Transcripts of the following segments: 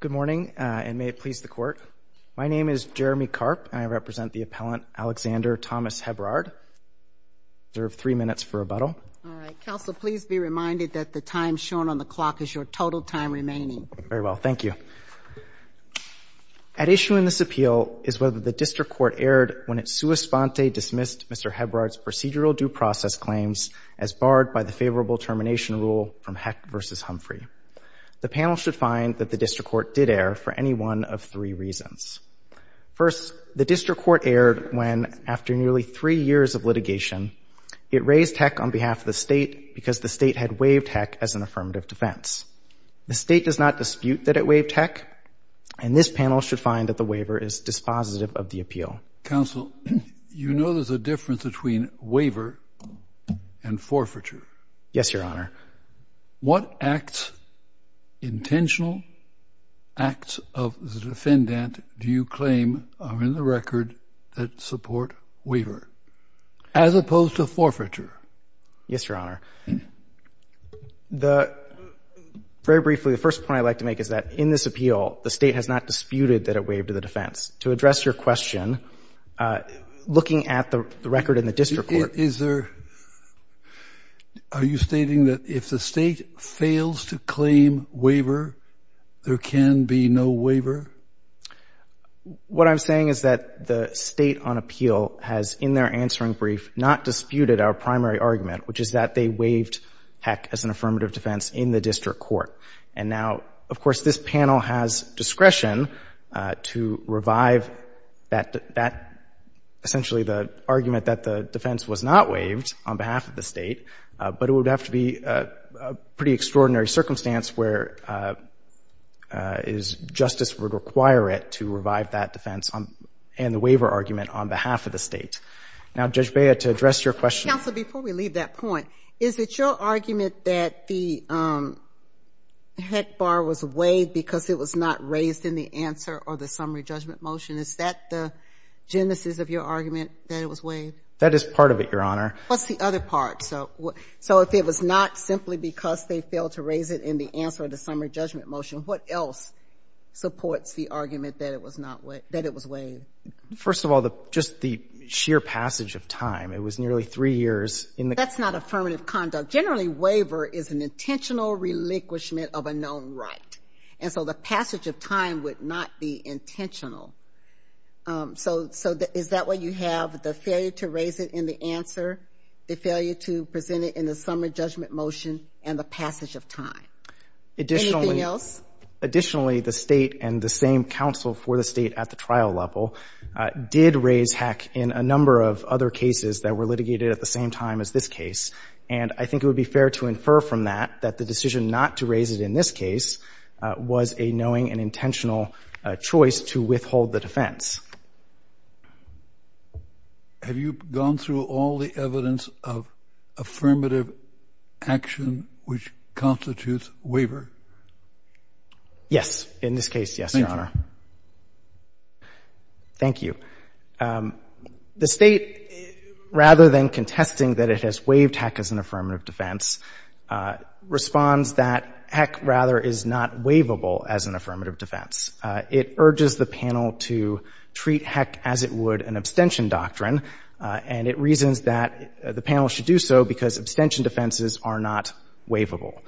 Good morning, and may it please the Court. My name is Jeremy Karp, and I represent the appellant Alexander Thomas Hebrard. I reserve three minutes for rebuttal. All right. Counsel, please be reminded that the time shown on the clock is your total time remaining. Very well. Thank you. At issue in this appeal is whether the District Court erred when it sua sponte dismissed Mr. Hebrard's procedural due process claims as barred by the favorable termination rule from should find that the District Court did err for any one of three reasons. First, the District Court erred when, after nearly three years of litigation, it raised heck on behalf of the State because the State had waived heck as an affirmative defense. The State does not dispute that it waived heck, and this panel should find that the waiver is dispositive of the appeal. Counsel, you know there's a difference between waiver and forfeiture. Yes, Your Honor. What acts, intentional acts of the defendant do you claim are in the record that support waiver as opposed to forfeiture? Yes, Your Honor. Very briefly, the first point I'd like to make is that in this appeal, the State has not disputed that it waived the defense. To address your question, looking at the record in the District Court is there, are you stating that if the State fails to claim waiver, there can be no waiver? What I'm saying is that the State on appeal has, in their answering brief, not disputed our primary argument, which is that they waived heck as an affirmative defense in the District Court. And now, of course, this panel has discretion to revive that, essentially the defense was not waived on behalf of the State, but it would have to be a pretty extraordinary circumstance where justice would require it to revive that defense and the waiver argument on behalf of the State. Now, Judge Bea, to address your question. Counsel, before we leave that point, is it your argument that the heck bar was waived because it was not raised in the answer or the summary judgment motion? Is that the genesis of your argument that it was waived? That is part of it, Your Honor. What's the other part? So if it was not simply because they failed to raise it in the answer or the summary judgment motion, what else supports the argument that it was waived? First of all, just the sheer passage of time. It was nearly three years in the- That's not affirmative conduct. Generally, waiver is an intentional relinquishment of a known right. And so the passage of time would not be intentional. So is that why you have the failure to raise it in the answer, the failure to present it in the summary judgment motion, and the passage of time? Anything else? Additionally, the State and the same counsel for the State at the trial level did raise heck in a number of other cases that were litigated at the same time as this case. And I think it would be fair to infer from that that the decision not to raise it in this case was a knowing and intentional choice to withhold the defense. Have you gone through all the evidence of affirmative action which constitutes waiver? Yes. In this case, yes, Your Honor. Thank you. The State, rather than contesting that it has waived heck as an affirmative defense, responds that heck, rather, is not waivable as an affirmative defense. It urges the panel to treat heck as it would an abstention doctrine, and it reasons that the panel should do so because abstention defenses are not waivable.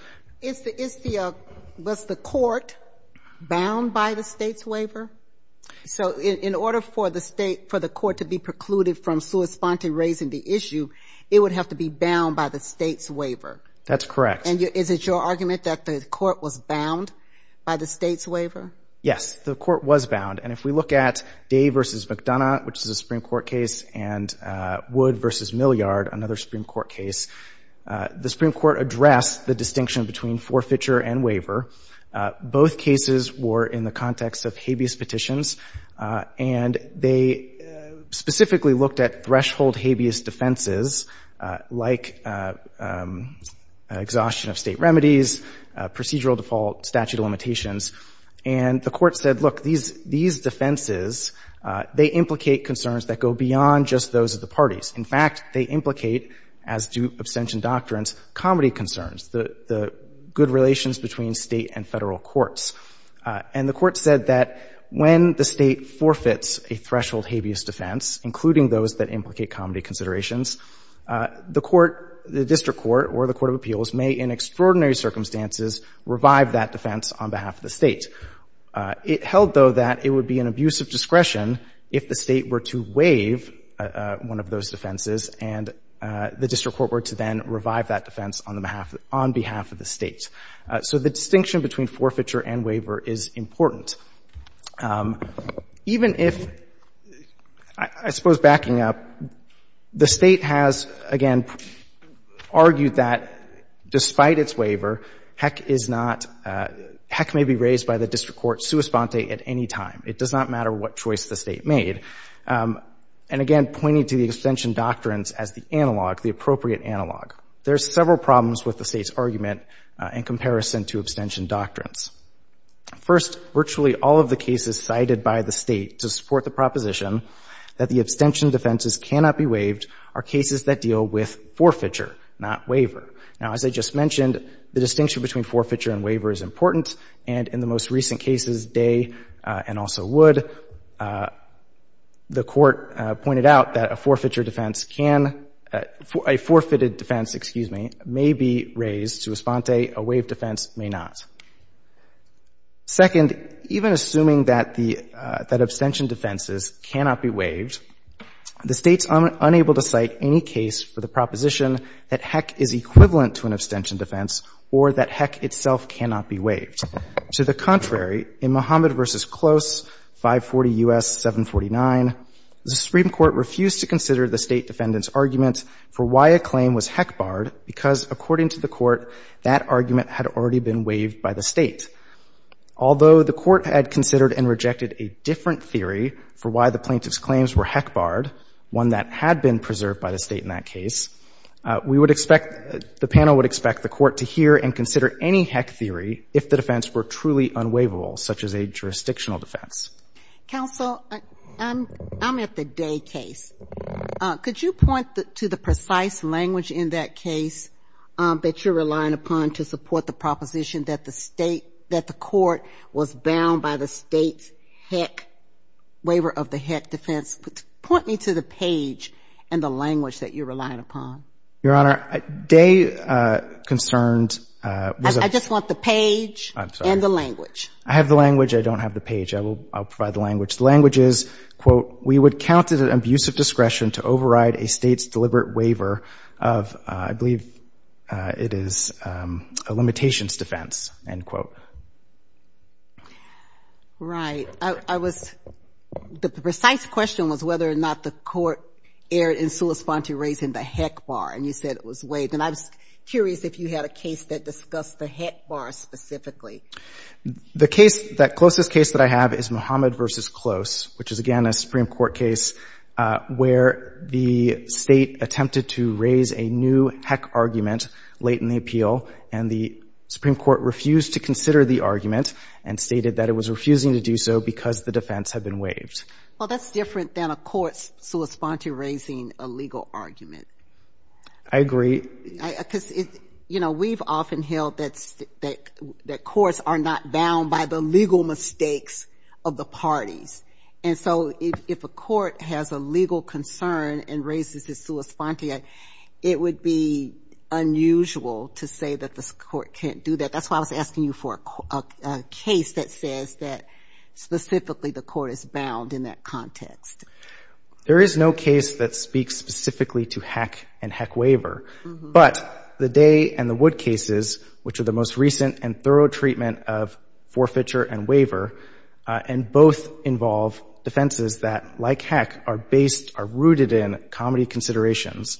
Was the Court bound by the State's waiver? So in order for the State, for the Court to be precluded from sui sponte raising the issue, it would have to be bound by the State's waiver? That's correct. Is it your argument that the Court was bound by the State's waiver? Yes. The Court was bound. And if we look at Day v. McDonough, which is a Supreme Court case, and Wood v. Milliard, another Supreme Court case, the Supreme Court addressed the distinction between forfeiture and waiver. Both cases were in the context of habeas petitions, and they specifically looked at threshold habeas defenses like exhaustion of State remedies, procedural default, statute of limitations. And the Court said, look, these defenses, they implicate concerns that go beyond just those of the parties. In fact, they implicate, as do abstention doctrines, comity concerns, the good relations between State and Federal courts. And the Court said that when the State forfeits a threshold habeas defense, including those that implicate comity considerations, the Court, the district court or the court of appeals may, in extraordinary circumstances, revive that defense on behalf of the State. It held, though, that it would be an abuse of discretion if the State were to waive one of those defenses and the district court were to then revive that defense on behalf of the State. So the distinction between forfeiture and waiver is important. Even if, I suppose backing up, the State has, again, argued that despite its waiver, heck is not, heck may be raised by the district court sua sponte at any time. It does not matter what choice the State made. And, again, pointing to the abstention doctrines as the analog, the appropriate analog. There's several problems with the State's argument in comparison to abstention doctrines. First, virtually all of the cases cited by the State to support the proposition that the abstention defenses cannot be waived are cases that deal with forfeiture, not waiver. Now, as I just mentioned, the distinction between forfeiture and waiver is important. And in the most recent cases, Day and also Wood, the Court pointed out that a forfeiture defense can, a forfeited defense, excuse me, may be raised. Sua sponte, a waived defense may not. Second, even assuming that the, that abstention defenses cannot be waived, the State's unable to cite any case for the proposition that heck is equivalent to an abstention defense or that heck itself cannot be waived. To the contrary, in Muhammad v. Close, 540 U.S. 749, the Supreme Court refused to consider the State defendant's argument for why a defense could have been waived by the State. Although the Court had considered and rejected a different theory for why the plaintiff's claims were heck-barred, one that had been preserved by the State in that case, we would expect, the panel would expect the Court to hear and consider any heck theory if the defense were truly unwaivable, such as a jurisdictional defense. Counsel, I'm at the Day case. Could you point to the precise language in that case that you're relying upon to support the proposition that the State, that the Court was bound by the State's heck, waiver of the heck defense? Point me to the page and the language that you're relying upon. Your Honor, Day concerned was a — I just want the page and the language. I'm sorry. I have the language. I don't have the page. I will, I'll provide the language. The language is, quote, we would count it an abuse of discretion to override a State's claim. It is a limitations defense, end quote. Right. I was — the precise question was whether or not the Court erred in solus fonti raising the heck bar, and you said it was waived. And I was curious if you had a case that discussed the heck bar specifically. The case, that closest case that I have is Muhammad v. Close, which is, again, a Supreme Court case where the State attempted to raise a new heck argument late in the appeal, and the Supreme Court refused to consider the argument and stated that it was refusing to do so because the defense had been waived. Well, that's different than a court's solus fonti raising a legal argument. I agree. Because, you know, we've often held that courts are not bound by the legal mistakes of the parties. And so if a court has a legal concern and raises its solus fonti, it would be unusual to say that the court can't do that. That's why I was asking you for a case that says that specifically the court is bound in that context. There is no case that speaks specifically to heck and heck waiver. But the Day and the Court, and both involve defenses that, like heck, are based, are rooted in comedy considerations.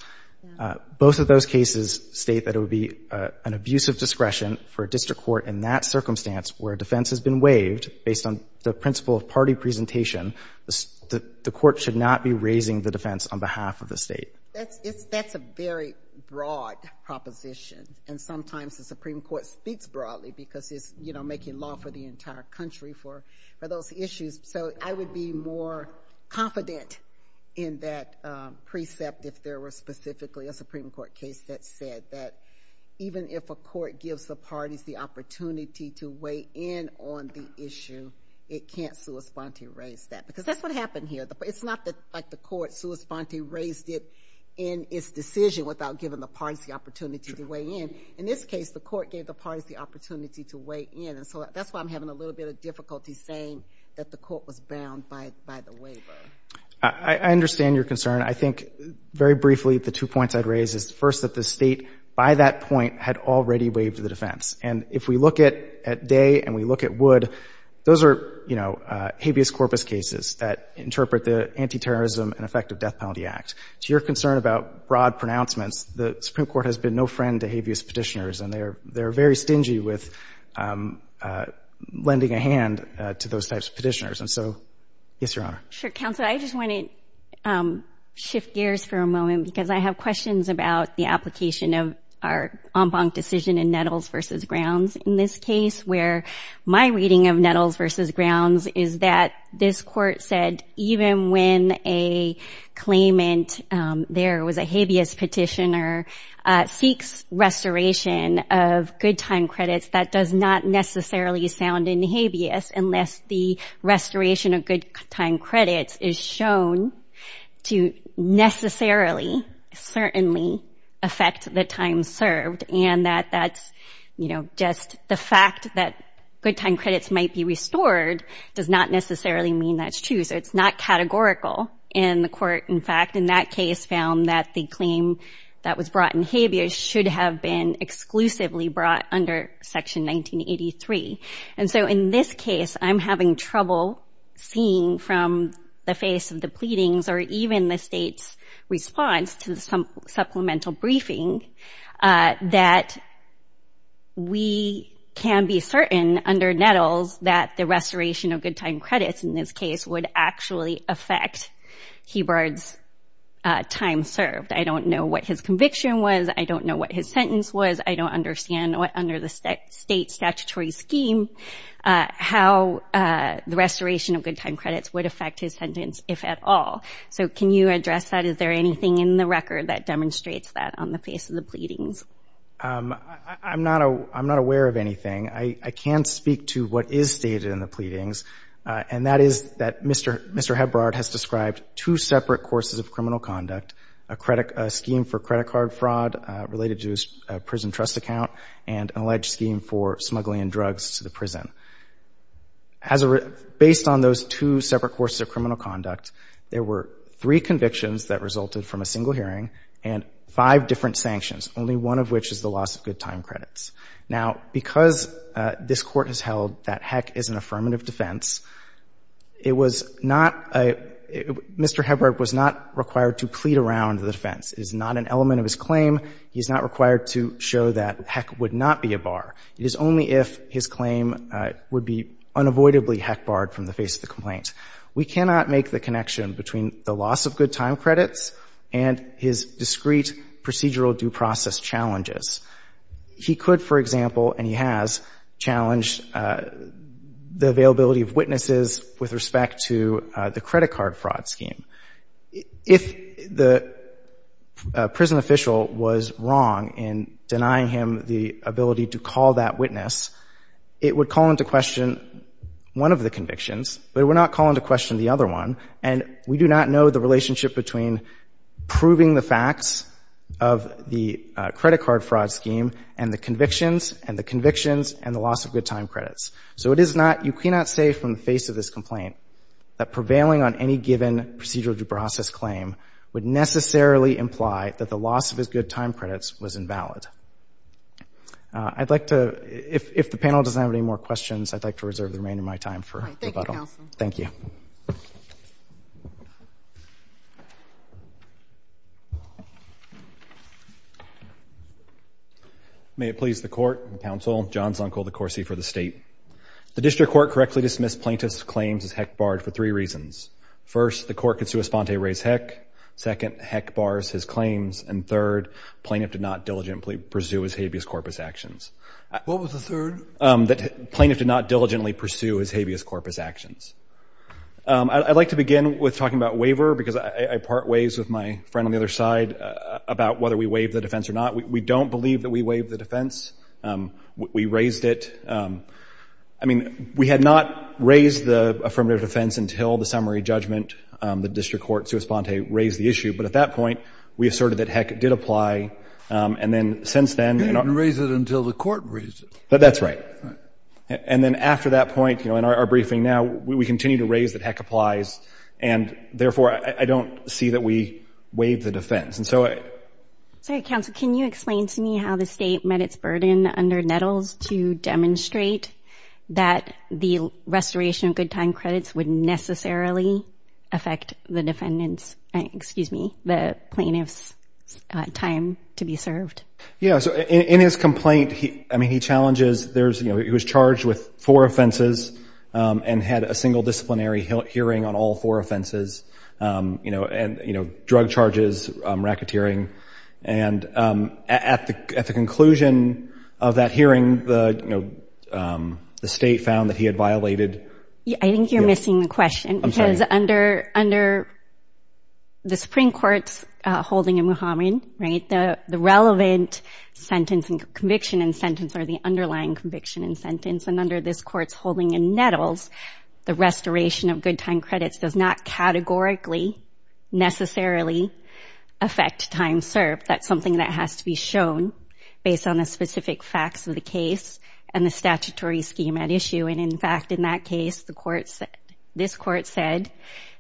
Both of those cases state that it would be an abuse of discretion for a district court in that circumstance where a defense has been waived based on the principle of party presentation. The court should not be raising the defense on behalf of the State. That's a very broad proposition. And sometimes the Supreme Court speaks broadly because it's, you know, making law for the entire country for those issues. So I would be more confident in that precept if there were specifically a Supreme Court case that said that even if a court gives the parties the opportunity to weigh in on the issue, it can't solus fonti raise that. Because that's what happened here. It's not like the court solus fonti raised it in its decision without giving the parties the opportunity to weigh in. In this case, the court gave the parties the opportunity to weigh in. And so that's why I'm having a little bit of difficulty saying that the court was bound by the waiver. I understand your concern. I think, very briefly, the two points I'd raise is, first, that the State, by that point, had already waived the defense. And if we look at Day and we look at Wood, those are, you know, habeas corpus cases that interpret the Anti-Terrorism and Effective Death Penalty Act. To your concern about broad pronouncements, the Supreme Court has been no friend to habeas petitioners. And they're very stingy with lending a hand to those types of petitioners. And so, yes, Your Honor. Sure, Counselor. I just want to shift gears for a moment because I have questions about the application of our en banc decision in Nettles v. Grounds. In this case, where my reading of Nettles v. Grounds is that this court said even when a claimant there was a habeas petitioner, seeks restoration of good time credits, that does not necessarily sound in habeas unless the restoration of good time credits is shown to necessarily certainly affect the time served. And that that's, you know, just the fact that good time credits might be restored does not necessarily mean that's true. So it's not categorical in the court. In fact, in that case found that the claim that was brought in habeas should have been exclusively brought under Section 1983. And so in this case, I'm having trouble seeing from the face of the pleadings or even the state's response to the supplemental briefing that we can be certain under Nettles that the restoration of good time credits in this case would actually affect Hebrard's time served. I don't know what his conviction was. I don't know what his sentence was. I don't understand what under the state statutory scheme how the restoration of good time credits would affect his sentence, if at all. So can you address that? Is there anything in the record that demonstrates that on the face of the pleadings? I'm not, I'm not aware of anything. I can speak to what is stated in the pleadings. And that is that Mr. Hebrard has described two separate courses of criminal conduct, a credit, a scheme for credit card fraud related to a prison trust account and an alleged scheme for smuggling drugs to the prison. Based on those two separate courses of criminal conduct, there were three convictions that resulted from a single hearing and five different sanctions. Only one of which is the loss of good time credits. Now, because this Court has held that HECC is an affirmative defense, it was not, Mr. Hebrard was not required to plead around the defense. It is not an element of his claim. He is not required to show that HECC would not be a bar. It is only if his claim would be unavoidably HECC barred from the face of the complaint. We cannot make the connection between the loss of good time credits and his discrete procedural due process challenges. He could, for example, and he has, challenged the availability of witnesses with respect to the credit card fraud scheme. If the prison official was wrong in denying him the ability to call that witness, it would call into question one of the convictions, but it would not call into question the other one. And we do not know the relationship between proving the facts of the credit card fraud scheme and the convictions and the convictions and the loss of good time credits. So it is not, you cannot say from the face of this complaint that prevailing on any given procedural due process claim would necessarily imply that the loss of his good time credits was invalid. I'd like to, if the panel doesn't have any more questions, I'd like to reserve the remainder of my time for rebuttal. Thank you, counsel. Thank you. Thank you. May it please the court, counsel, John Zunkel, the Corsi for the state. The district court correctly dismissed plaintiff's claims as heck barred for three reasons. First, the court could sui sponte res heck. Second, heck bars his claims. And third, plaintiff did not diligently pursue his habeas corpus actions. What was the third? That plaintiff did not diligently pursue his habeas corpus actions. I'd like to begin with talking about waiver because I part ways with my friend on the other side about whether we waived the defense or not. We don't believe that we waived the defense. We raised it. I mean, we had not raised the affirmative defense until the summary judgment, the district court, sui sponte, raised the issue. But at that point, we asserted that heck did apply. And then since then, you know. You didn't raise it until the court raised it. But that's right. And then after that point, you know, in our briefing now, we continue to raise that heck applies. And therefore, I don't see that we waive the defense. And so I say, counsel, can you explain to me how the state met its burden under Nettles to demonstrate that the restoration of good time credits would necessarily affect the defendants, excuse me, the plaintiff's time to be served? Yeah. So in his complaint, I mean, he challenges there's, you know, he was charged with four offenses and had a single disciplinary hearing on all four offenses, you know, and, you know, drug charges, racketeering. And at the at the conclusion of that hearing, the state found that he had violated. I think you're missing the question because under under the Supreme Court's holding in Haman, the relevant sentence and conviction and sentence are the underlying conviction and sentence. And under this court's holding in Nettles, the restoration of good time credits does not categorically necessarily affect time served. That's something that has to be shown based on the specific facts of the case and the statutory scheme at issue. And in fact, in that case, the court said this court said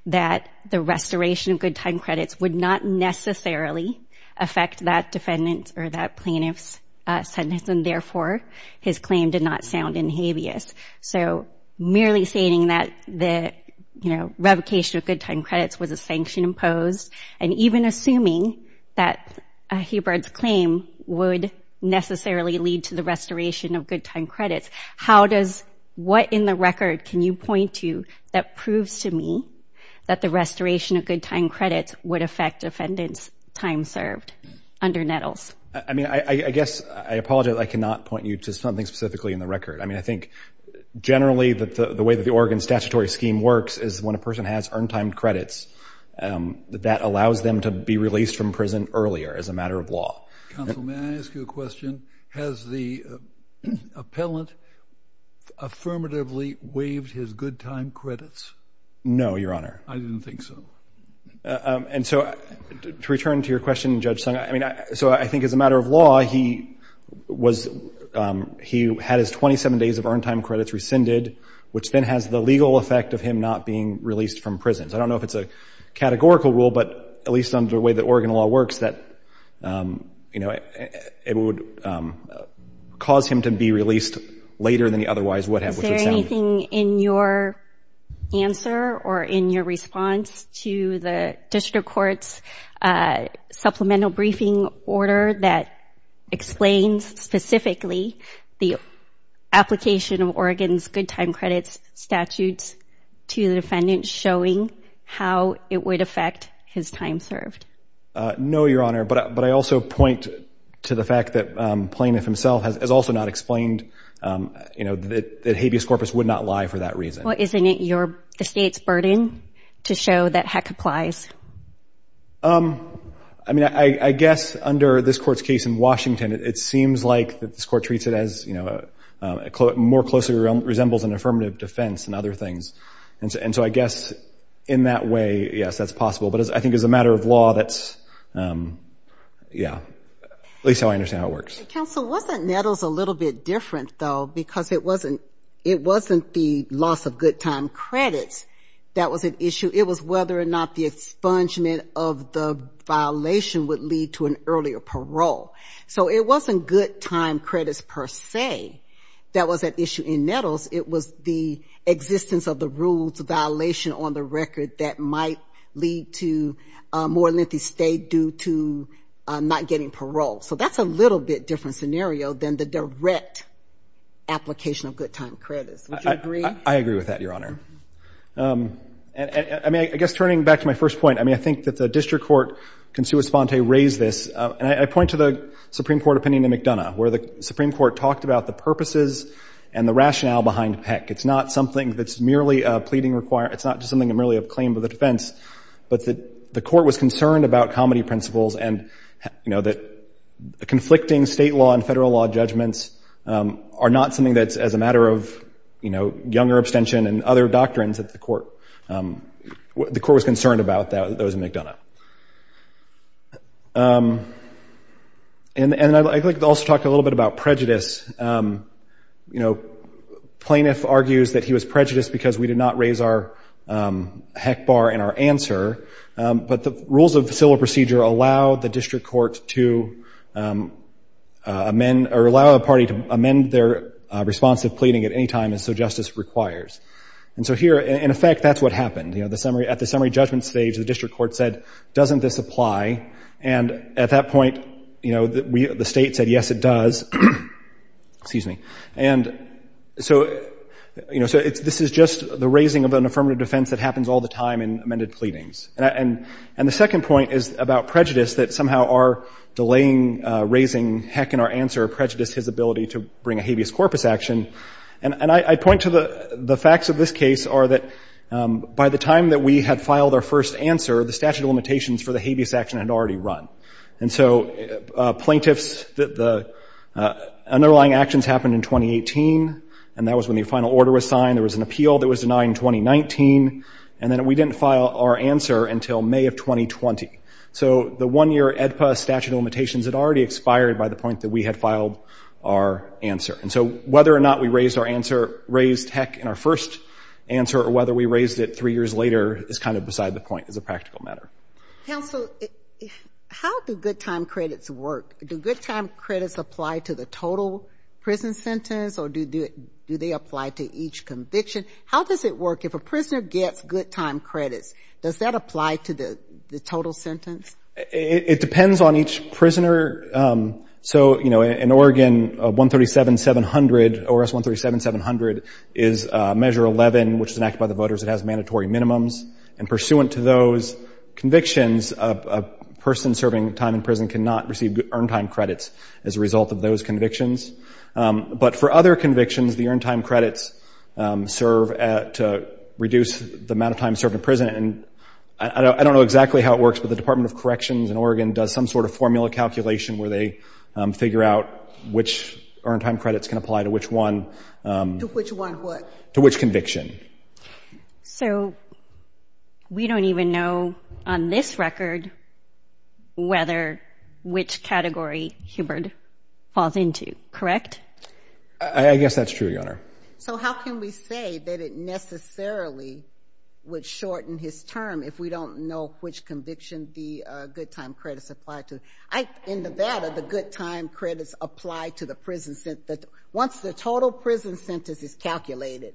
that the restoration of good time credits would not necessarily affect that defendant or that plaintiff's sentence. And therefore, his claim did not sound in habeas. So merely stating that the, you know, revocation of good time credits was a sanction imposed and even assuming that Hebert's claim would necessarily lead to the restoration of good time credits. How does what in the record can you point to that proves to me that the restoration of good time credits would affect defendants time served under Nettles? I mean, I guess I apologize. I cannot point you to something specifically in the record. I mean, I think generally that the way that the Oregon statutory scheme works is when a person has earned time credits that allows them to be released from prison earlier as a matter of law. Counsel, may I ask you a question? Has the appellant affirmatively waived his good time credits? No, Your Honor. I didn't think so. And so to return to your question, Judge Sung, I mean, so I think as a matter of law, he was he had his 27 days of earned time credits rescinded, which then has the legal effect of him not being released from prison. I don't know if it's a categorical rule, but at least under the way that Oregon law works, that, you know, it would cause him to be released later than he otherwise would have. Is there anything in your answer or in your response to the district court's supplemental briefing order that explains specifically the application of Oregon's good time credits statutes to the defendant showing how it would affect his time served? No, Your Honor. But but I also point to the fact that Plaintiff himself has also not explained, you know, that habeas corpus would not lie for that reason. Well, isn't it your the state's burden to show that heck applies? I mean, I guess under this court's case in Washington, it seems like that this court treats it as, you know, more closely resembles an affirmative defense and other things. And so I guess in that way, yes, that's possible. But I think as a matter of law, that's, yeah, at least I understand how it works. Counsel, wasn't Nettles a little bit different, though, because it wasn't it wasn't the loss of good time credits that was an issue. It was whether or not the expungement of the violation would lead to an earlier parole. So it wasn't good time credits per se that was at issue in Nettles. It was the existence of the rules violation on the record that might lead to more lengthy stay due to not getting parole. So that's a little bit different scenario than the direct application of good time credits. I agree with that, Your Honor. And I mean, I guess turning back to my first point, I mean, I think that the district court, Consuelo Esponte, raised this and I point to the Supreme Court opinion in McDonough, where the Supreme Court talked about the purposes and the rationale behind PECC. It's not something that's merely a pleading require. It's not just something that merely a claim of the defense, but that the court was conflicting state law and federal law judgments are not something that's as a matter of, you know, younger abstention and other doctrines that the court was concerned about that was in McDonough. And I'd like to also talk a little bit about prejudice, you know, plaintiff argues that he was prejudiced because we did not raise our heck bar in our answer. But the rules of civil procedure allow the district court to amend or allow a party to amend their response of pleading at any time. And so justice requires. And so here, in effect, that's what happened. You know, the summary at the summary judgment stage, the district court said, doesn't this apply? And at that point, you know, the state said, yes, it does. Excuse me. And so, you know, so it's this is just the raising of an affirmative defense that happens all the time in amended pleadings. And the second point is about prejudice, that somehow our delaying raising heck in our answer prejudiced his ability to bring a habeas corpus action. And I point to the facts of this case are that by the time that we had filed our first answer, the statute of limitations for the habeas action had already run. And so plaintiffs, the underlying actions happened in 2018, and that was when the final order was signed. There was an appeal that was denied in 2019, and then we didn't file our answer until May of 2020. So the one year statute of limitations had already expired by the point that we had filed our answer. And so whether or not we raised our answer, raised heck in our first answer or whether we raised it three years later is kind of beside the point as a practical matter. Counsel, how do good time credits work? Do good time credits apply to the total prison sentence or do they apply to each conviction? How does it work if a prisoner gets good time credits? Does that apply to the total sentence? It depends on each prisoner. So, you know, in Oregon, 137-700, ORS 137-700 is Measure 11, which is an act by the voters that has mandatory minimums. And pursuant to those convictions, a person serving time in prison cannot receive earned time credits as a result of those convictions. But for other convictions, the earned time credits serve to reduce the amount of time served in prison. And I don't know exactly how it works, but the Department of Corrections in Oregon does some sort of formula calculation where they figure out which earned time credits can apply to which one, to which conviction. So we don't even know on this record whether which category Hubert falls into. Correct? I guess that's true, Your Honor. So how can we say that it necessarily would shorten his term if we don't know which conviction the good time credits apply to? In Nevada, the good time credits apply to the prison sentence. Once the total prison sentence is calculated,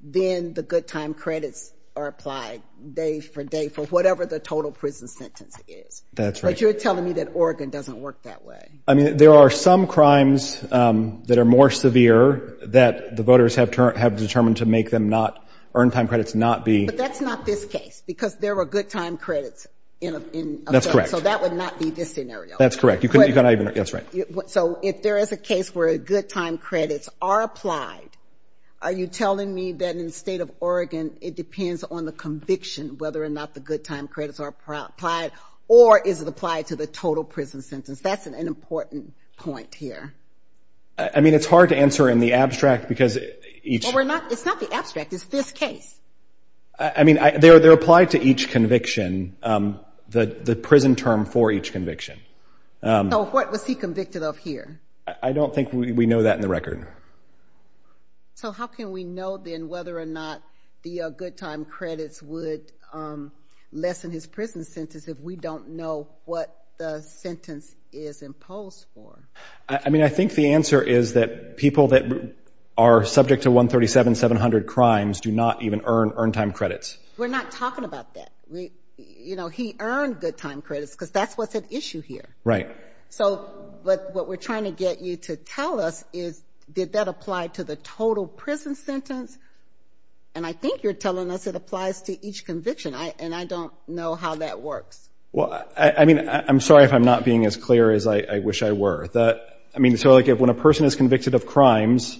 then the good time credits are applied day for day for whatever the total prison sentence is. That's right. But you're telling me that Oregon doesn't work that way. I mean, there are some crimes that are more severe that the voters have determined to make them not earn time credits, not be. But that's not this case because there were good time credits in. That's correct. So that would not be this scenario. That's correct. You couldn't even. That's right. So if there is a case where a good time credits are applied, are you telling me that in the state of Oregon, it depends on the conviction whether or not the good time credits are applied or is it applied to the total prison sentence? That's an important point here. I mean, it's hard to answer in the abstract because each. Well, we're not. It's not the abstract. It's this case. I mean, they're applied to each conviction. The prison term for each conviction. So what was he convicted of here? I don't think we know that in the record. So how can we know then whether or not the good time credits would lessen his prison sentence if we don't know what the sentence is imposed for? I mean, I think the answer is that people that are subject to 137-700 crimes do not even earn earned time credits. We're not talking about that. You know, he earned good time credits because that's what's at issue here. Right. So, but what we're trying to get you to tell us is did that apply to the total prison sentence? And I think you're telling us it applies to each conviction. And I don't know how that works. Well, I mean, I'm sorry if I'm not being as clear as I wish I were. I mean, so like if when a person is convicted of crimes,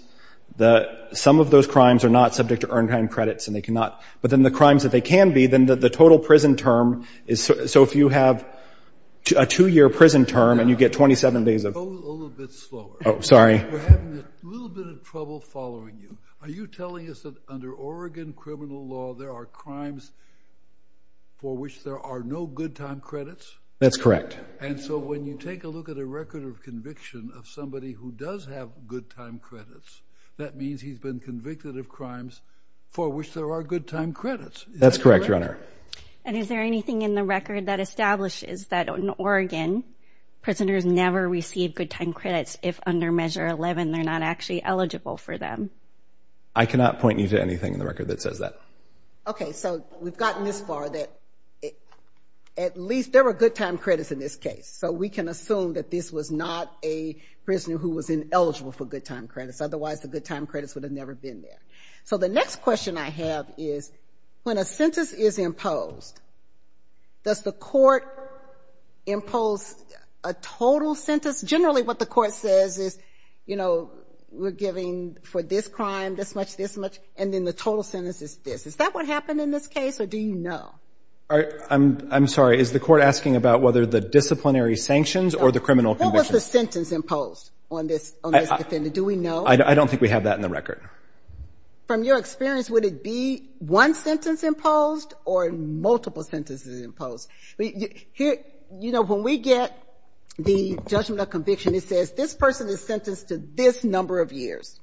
some of those crimes are not subject to earned time credits and they cannot. But then the crimes that they can be, then the total prison term is. So if you have a two year prison term and you get 27 days of. Go a little bit slower. Oh, sorry. We're having a little bit of trouble following you. Are you telling us that under Oregon criminal law, there are crimes for which there are no good time credits? That's correct. And so when you take a look at a record of conviction of somebody who does have good time credits, that means he's been convicted of crimes for which there are good time credits. That's correct, Your Honor. And is there anything in the record that establishes that in Oregon, prisoners never receive good time credits if under measure 11, they're not actually eligible for them? I cannot point you to anything in the record that says that. OK, so we've gotten this far that at least there are good time credits in this case. So we can assume that this was not a prisoner who was ineligible for good time credits. Otherwise, the good time credits would have never been there. So the next question I have is when a sentence is imposed, does the court impose a total sentence? Generally, what the court says is, you know, we're giving for this crime this much, this much. And then the total sentence is this. Is that what happened in this case or do you know? I'm sorry, is the court asking about whether the disciplinary sanctions or the criminal conviction? What was the sentence imposed on this defendant? Do we know? I don't think we have that in the record. From your experience, would it be one sentence imposed or multiple sentences imposed? You know, when we get the judgment of conviction, it says this person is sentenced to this number of years.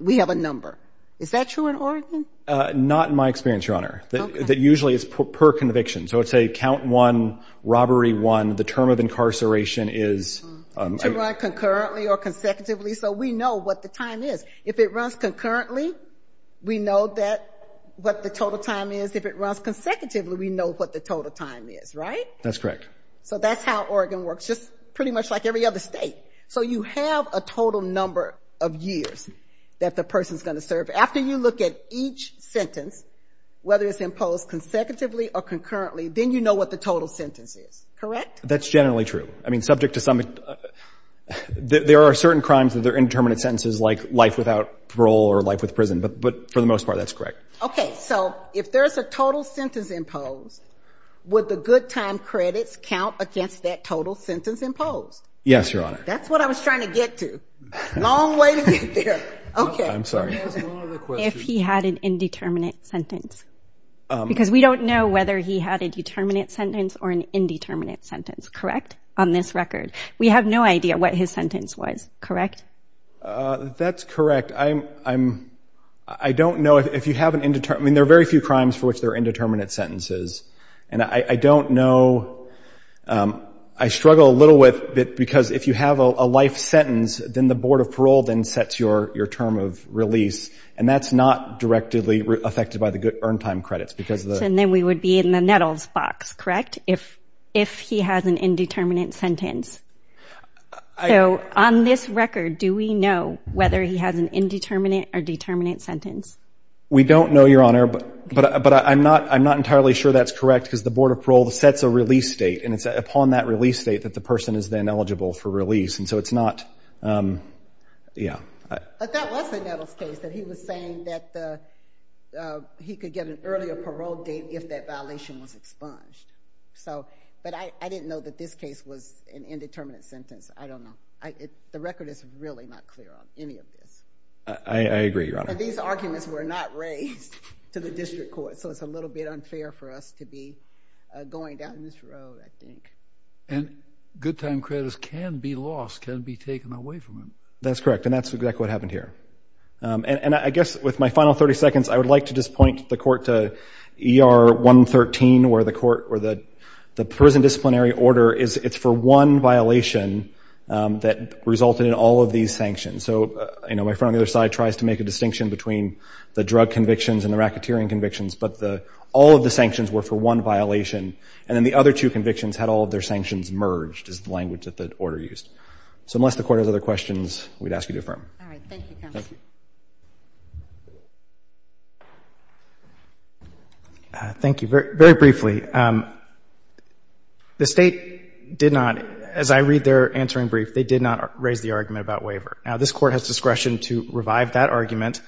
We have a number. Is that true in Oregon? Not in my experience, Your Honor. That usually is per conviction. So it's a count one, robbery one. The term of incarceration is. To run concurrently or consecutively. So we know what the time is. If it runs concurrently, we know that what the total time is. If it runs consecutively, we know what the total time is. Right? That's correct. So that's how Oregon works. Just pretty much like every other state. So you have a total number of years that the person is going to serve. After you look at each sentence, whether it's imposed consecutively or concurrently, then you know what the total sentence is. Correct? That's generally true. I mean, subject to some, there are certain crimes that they're indeterminate sentences like life without parole or life with prison. But for the most part, that's correct. Okay. So if there's a total sentence imposed, would the good time credits count against that total sentence imposed? Yes, Your Honor. That's what I was trying to get to. Long way to get there. Okay. I'm sorry. If he had an indeterminate sentence. Because we don't know whether he had a determinate sentence or an indeterminate sentence. Correct? On this record, we have no idea what his sentence was. Correct? That's correct. I don't know if you have an indeterminate, I mean, there are very few crimes for which they're indeterminate sentences. And I don't know, I struggle a little with it because if you have a life sentence, then the Board of Parole then sets your term of release. And that's not directly affected by the good earned time credits because of the. And then we would be in the Nettles box, correct? If he has an indeterminate sentence. So on this record, do we know whether he has an indeterminate or determinate sentence? We don't know, Your Honor, but I'm not entirely sure that's correct because the Board of Parole sets a release date and it's upon that release date that the person is then eligible for release. And so it's not, yeah. But that was the Nettles case that he was saying that he could get an earlier parole date if that violation was expunged. So, but I didn't know that this case was an indeterminate sentence. I don't know. The record is really not clear on any of this. I agree, Your Honor. These arguments were not raised to the district court. So it's a little bit unfair for us to be going down this road, I think. And good time credits can be lost, can be taken away from them. That's correct. And that's exactly what happened here. And I guess with my final 30 seconds, I would like to just point the court to ER 113 where the court or the prison disciplinary order is it's for one violation that resulted in all of these sanctions. So, you know, my friend on the other side tries to make a distinction between the drug convictions and the racketeering convictions, but all of the sanctions were for one violation. And then the other two convictions had all of their sanctions merged is the language that the order used. So unless the court has other questions, we'd ask you to affirm. All right. Thank you, counsel. Thank you. Thank you. Very briefly, the state did not, as I read their answering brief, they did not raise the argument about waiver. Now, this court has discretion to revive that argument,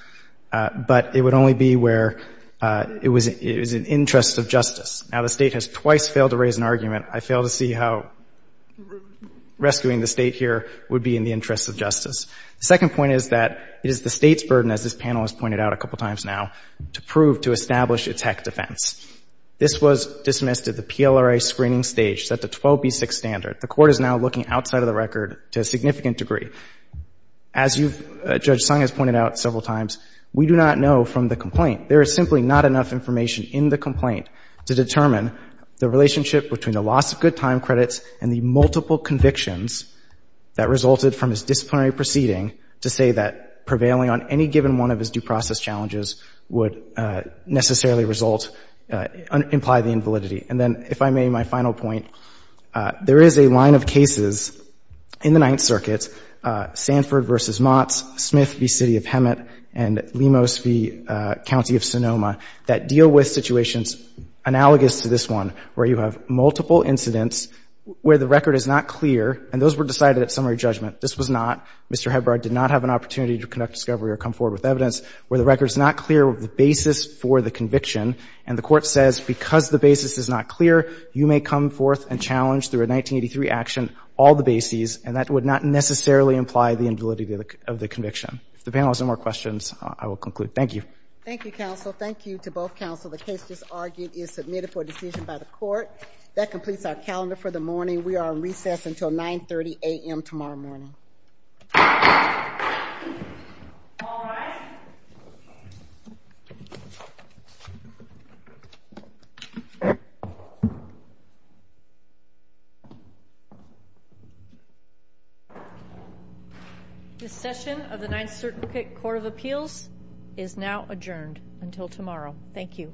but it would only be where it was in the interest of justice. Now, the state has twice failed to raise an argument. I fail to see how rescuing the state here would be in the interest of justice. The second point is that it is the state's burden, as this panel has pointed out a couple of times now, to prove, to establish a tech defense. This was dismissed at the PLRA screening stage, set the 12B6 standard. The court is now looking outside of the record to a significant degree. As you've, Judge Sung has pointed out several times, we do not know from the complaint. There is simply not enough information in the complaint to determine the relationship between the loss of good time credits and the multiple convictions that resulted from his disciplinary proceeding to say that prevailing on any given one of his due process challenges would necessarily result, imply the invalidity. And then, if I may, my final point, there is a line of cases in the Ninth Circuit, Sanford v. Motts, Smith v. City of Hemet, and Lemos v. County of Sonoma, that deal with situations analogous to this one, where you have multiple incidents where the record is not clear, and those were decided at summary judgment. This was not. Mr. Hebbard did not have an opportunity to conduct discovery or come forward with evidence where the record is not clear of the basis for the conviction. And the court says, because the basis is not clear, you may come forth and challenge through a 1983 action, all the bases, and that would not necessarily imply the invalidity of the conviction. If the panel has no more questions, I will conclude. Thank you. Thank you, counsel. Thank you to both counsel. The case just argued is submitted for decision by the court. That completes our calendar for the morning. We are recessed until 930 a.m. tomorrow morning. The session of the Ninth Circuit Court of Appeals is now adjourned until tomorrow. Thank you.